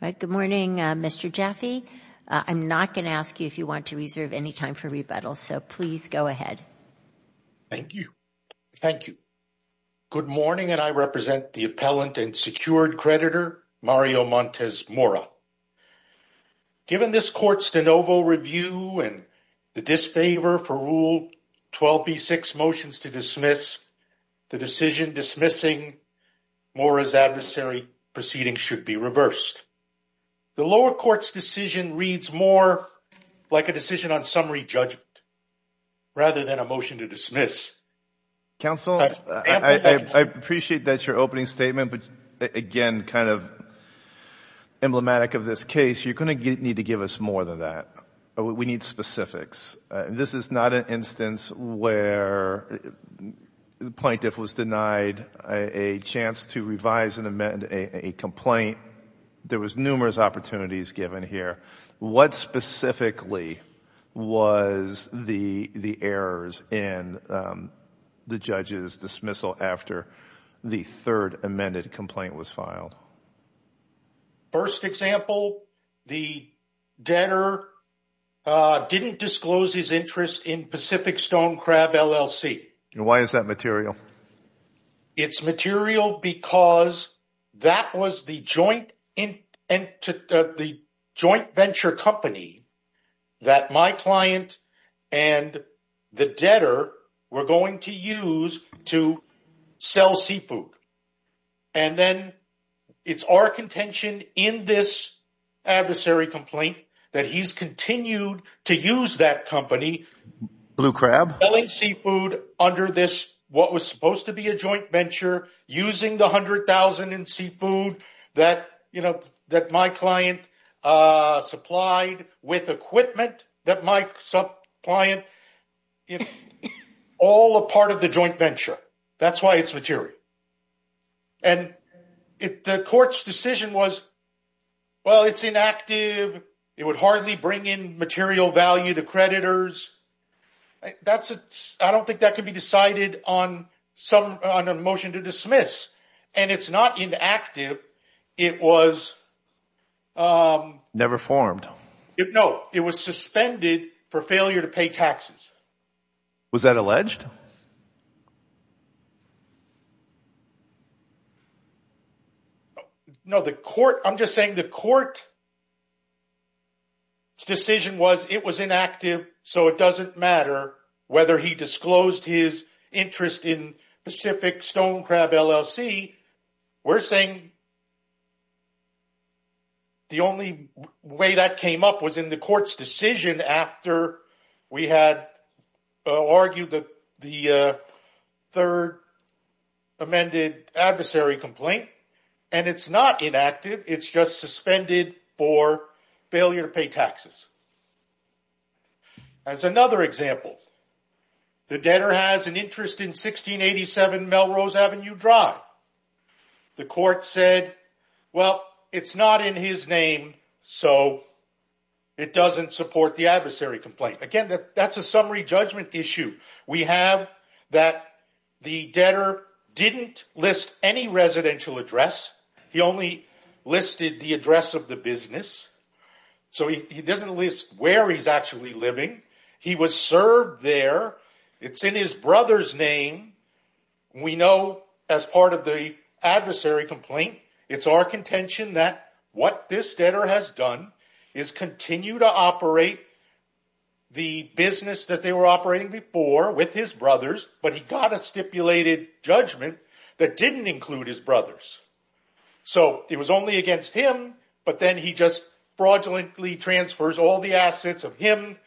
Good morning, Mr. Jaffe. I'm not going to ask you if you want to reserve any time for rebuttal, so please go ahead. Thank you. Thank you. Good morning, and I represent the appellant and secured creditor, Mario Montes Mora. Given this court's de novo review and the disfavor for Rule 12b6, Motions to Dismiss, the decision dismissing Mora's adversary proceedings should be reversed. The lower court's decision reads more like a decision on summary judgment rather than a motion to dismiss. Counsel, I appreciate that's your opening statement, but again, kind of emblematic of this case, you're going to need to give us more than that. We need specifics. This is not an instance where the plaintiff was denied a chance to revise and amend a complaint there was numerous opportunities given here. What specifically was the errors in the judge's dismissal after the third amended complaint was filed? First example, the debtor didn't disclose his interest in Pacific Stone Crab LLC. Why is that material? It's material because that was the joint venture company that my client and the debtor were going to use to sell seafood. And then it's our contention in this adversary complaint that he's supposed to be a joint venture using the $100,000 in seafood that my client supplied with equipment that my client is all a part of the joint venture. That's why it's material. And the court's decision was, well, it's inactive. It would hardly bring in material value to creditors. I don't think that can be decided on a motion to dismiss. And it's not inactive. It was- Never formed. No, it was suspended for failure to pay taxes. Was that alleged? No, the court- I'm just saying the court's decision was it was inactive, so it doesn't matter whether he disclosed his interest in Pacific Stone Crab LLC. We're saying the only way that came up was in the court's decision after we had argued that the third amended adversary complaint. And it's not inactive. It's just suspended for failure to pay taxes. As another example, the debtor has an interest in 1687 Melrose Avenue Drive. The court said, well, it's not in his name, so it doesn't support the adversary complaint. Again, that's a summary judgment issue. We have that the debtor didn't list any residential address. He only listed the address of the business. So he doesn't list where he's actually living. He was served there. It's in his brother's name. We know as part of the adversary complaint, it's our contention that what this debtor has done is continue to operate the business that they were operating before with his brothers, but he got a stipulated judgment that didn't include his brothers. So it was only against him, but then he just fraudulently transfers all the assets of him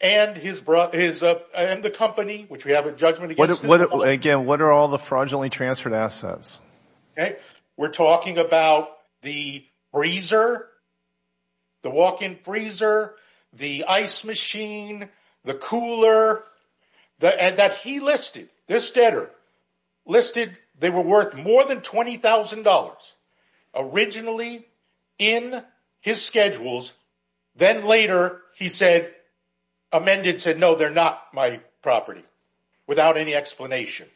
and the company, which we have a judgment against his brother. Again, what are all the fraudulently transferred assets? Okay. We're talking about the freezer, the walk-in freezer, the ice machine, the cooler, and that he listed, this debtor listed they were worth more than $20,000 originally in his schedules. Then later, he said, amended, said, no, they're not my property without any explanation.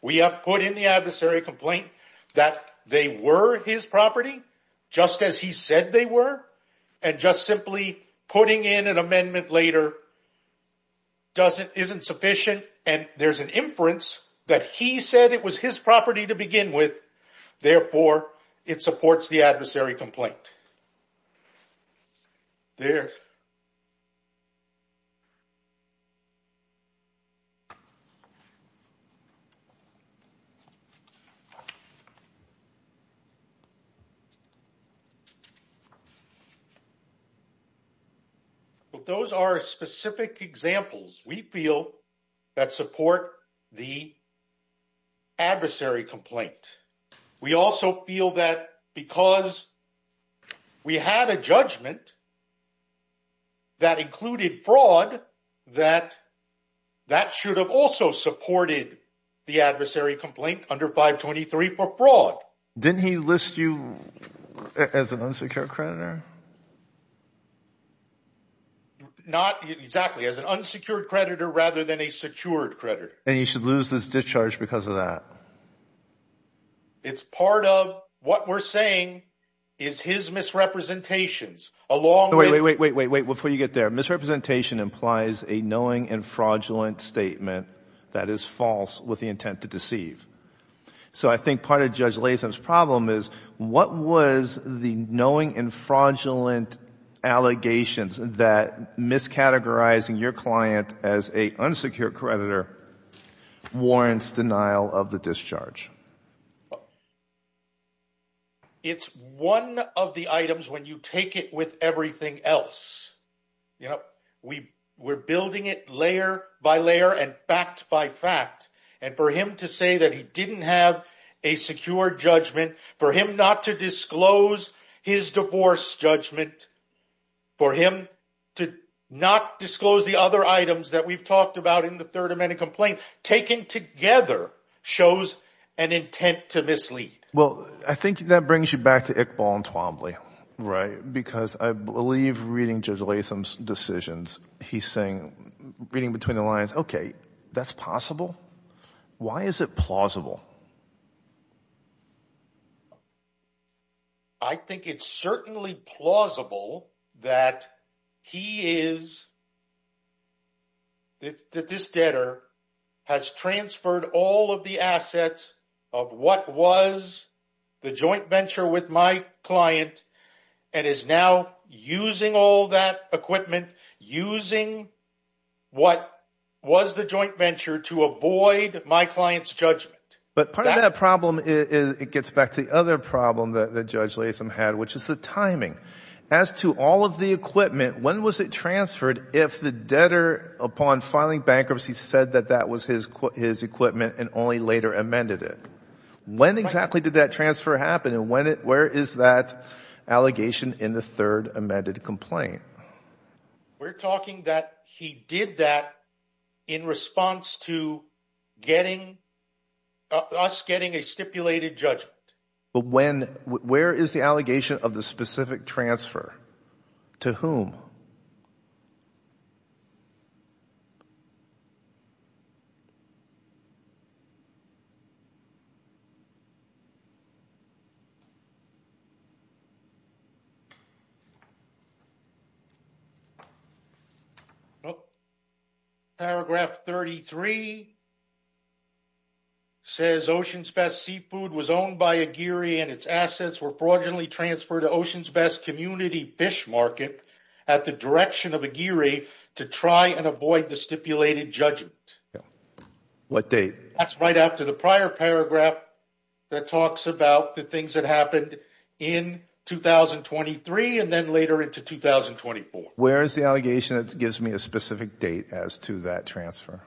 We have in the adversary complaint that they were his property, just as he said they were, and just simply putting in an amendment later isn't sufficient. And there's an inference that he said it was his property to begin with. Therefore, it supports the adversary complaint. But those are specific examples we feel that support the adversary complaint. We also feel that because we had a judgment that included fraud, that that should have supported the adversary complaint under 523 for fraud. Didn't he list you as an unsecured creditor? Not exactly, as an unsecured creditor rather than a secured creditor. And you should lose this discharge because of that. It's part of what we're saying is his misrepresentations along with- Wait, wait, wait, wait, wait, wait, before you get there. Misrepresentation implies a knowing and fraudulent statement that is false with the intent to deceive. So I think part of Judge Latham's problem is what was the knowing and fraudulent allegations that miscategorizing your client as an unsecured creditor warrants denial of the discharge? Well, it's one of the items when you take it with everything else. You know, we were building it layer by layer and fact by fact. And for him to say that he didn't have a secure judgment, for him not to disclose his divorce judgment, for him to not disclose the other items that we've talked about in the third amendment complaint, taken together, shows an intent to mislead. Well, I think that brings you back to Iqbal and Twombly, right? Because I believe reading Judge Latham's decisions, he's saying, reading between the lines, okay, that's possible. Why is it plausible? I think it's certainly plausible that he is, that this debtor has transferred all of the assets of what was the joint venture with my client and is now using all that equipment, using what was the joint venture to avoid my client's judgment. But part of that problem, it gets back to the other problem that Judge Latham had, which is the timing. As to all of the equipment, when was it transferred if the debtor, upon filing bankruptcy, said that that was his equipment and only later amended it? When exactly did that transfer happen and where is that allegation in the third amended complaint? We're talking that he did that in response to us getting a stipulated judgment. Where is the allegation of the specific transfer? To whom? Paragraph 33 says Ocean's Best Seafood was owned by Aguirre and its assets were fraudulently transferred to Ocean's Best Community Fish Market at the direction of Aguirre to try and avoid the stipulated judgment. That's right after the prior paragraph that talks about the happened in 2023 and then later into 2024. Where is the allegation that gives me a specific date as to that transfer?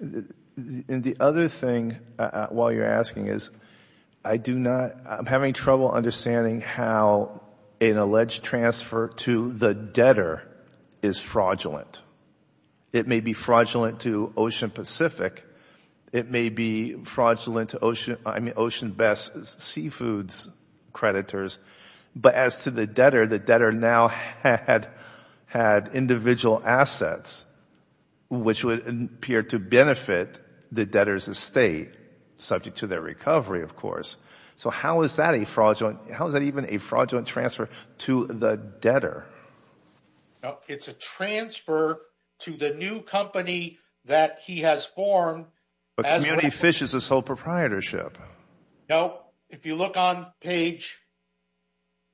And the other thing, while you're asking, is I do not, I'm having trouble understanding how an alleged transfer to the debtor is fraudulent. It may be fraudulent to Ocean Pacific, it may be fraudulent to Ocean, I mean Ocean's Best Seafood's creditors, but as to the debtor, the debtor now had individual assets which would appear to benefit the debtor's estate, subject to their recovery, of course. So how is that a fraudulent, how is that even a fraudulent transfer to the debtor? No, it's a transfer to the new company that he has formed. But Community Fish is a sole proprietorship. No, if you look on page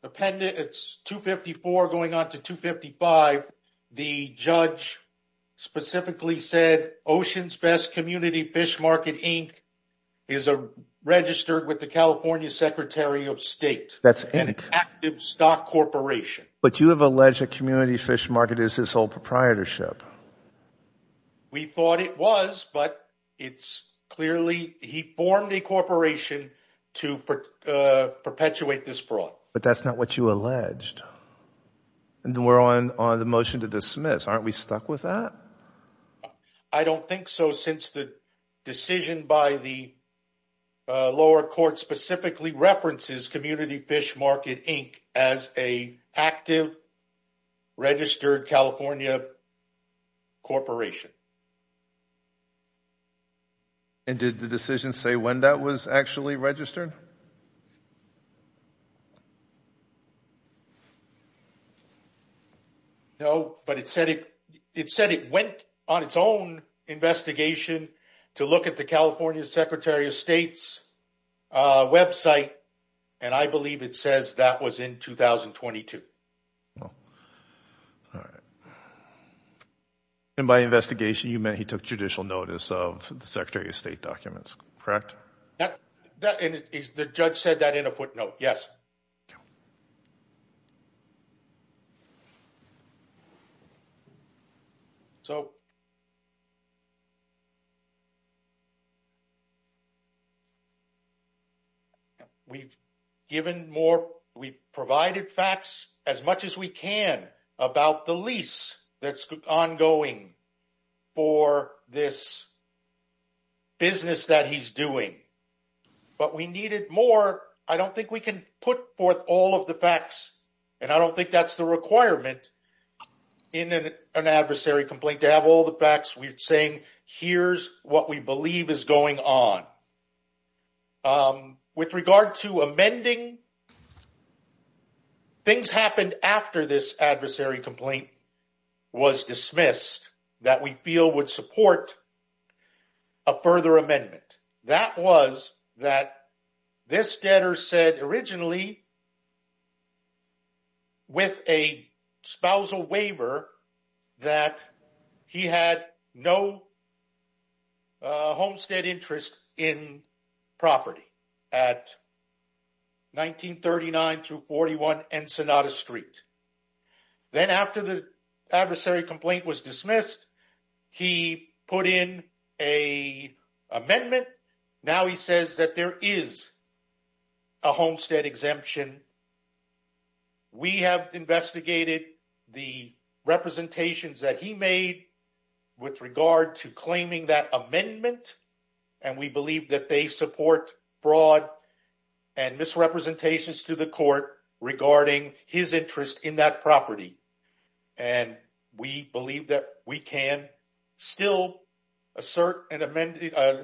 appendix 254 going on to 255, the judge specifically said Ocean's Best Community Fish Market, Inc. is a registered with the California Secretary of State. That's an active stock corporation. But you have alleged that Community Fish Market is his sole proprietorship. We thought it was, but it's clearly, he formed a corporation to perpetuate this fraud. But that's not what you alleged. And we're on the motion to dismiss. Aren't we stuck with that? I don't think so, since the decision by the lower court specifically references Community Fish Market, Inc. as an active, registered California corporation. And did the decision say when that was actually registered? No, but it said it went on its own investigation to look at the California Secretary of State's website. And I believe it says that was in 2022. And by investigation, you meant he took judicial notice of the Secretary of State documents, The judge said that in a footnote, yes. We've given more, we've provided facts as much as we can about the lease that's ongoing for this business that he's doing. But we needed more. I don't think we can put forth all of the facts. And I don't think that's the requirement in an adversary complaint to have all the facts. We're saying, here's what we believe is going on. With regard to amending, things happened after this adversary complaint was dismissed that we feel would support a further amendment. That was that this debtor said originally that he had no homestead interest in property at 1939 through 41 Ensenada Street. Then after the adversary complaint was dismissed, he put in a amendment. Now he says that there is a homestead exemption. We have investigated the representations that he made with regard to claiming that amendment. And we believe that they support broad and misrepresentations to the court regarding his interest in that property. And we believe that we can still assert an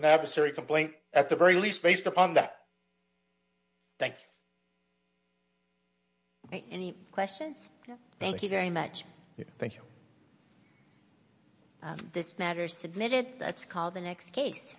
adversary complaint at the very least based upon that. Thank you. Any questions? Thank you very much. Thank you. This matter is submitted. Let's call the next case.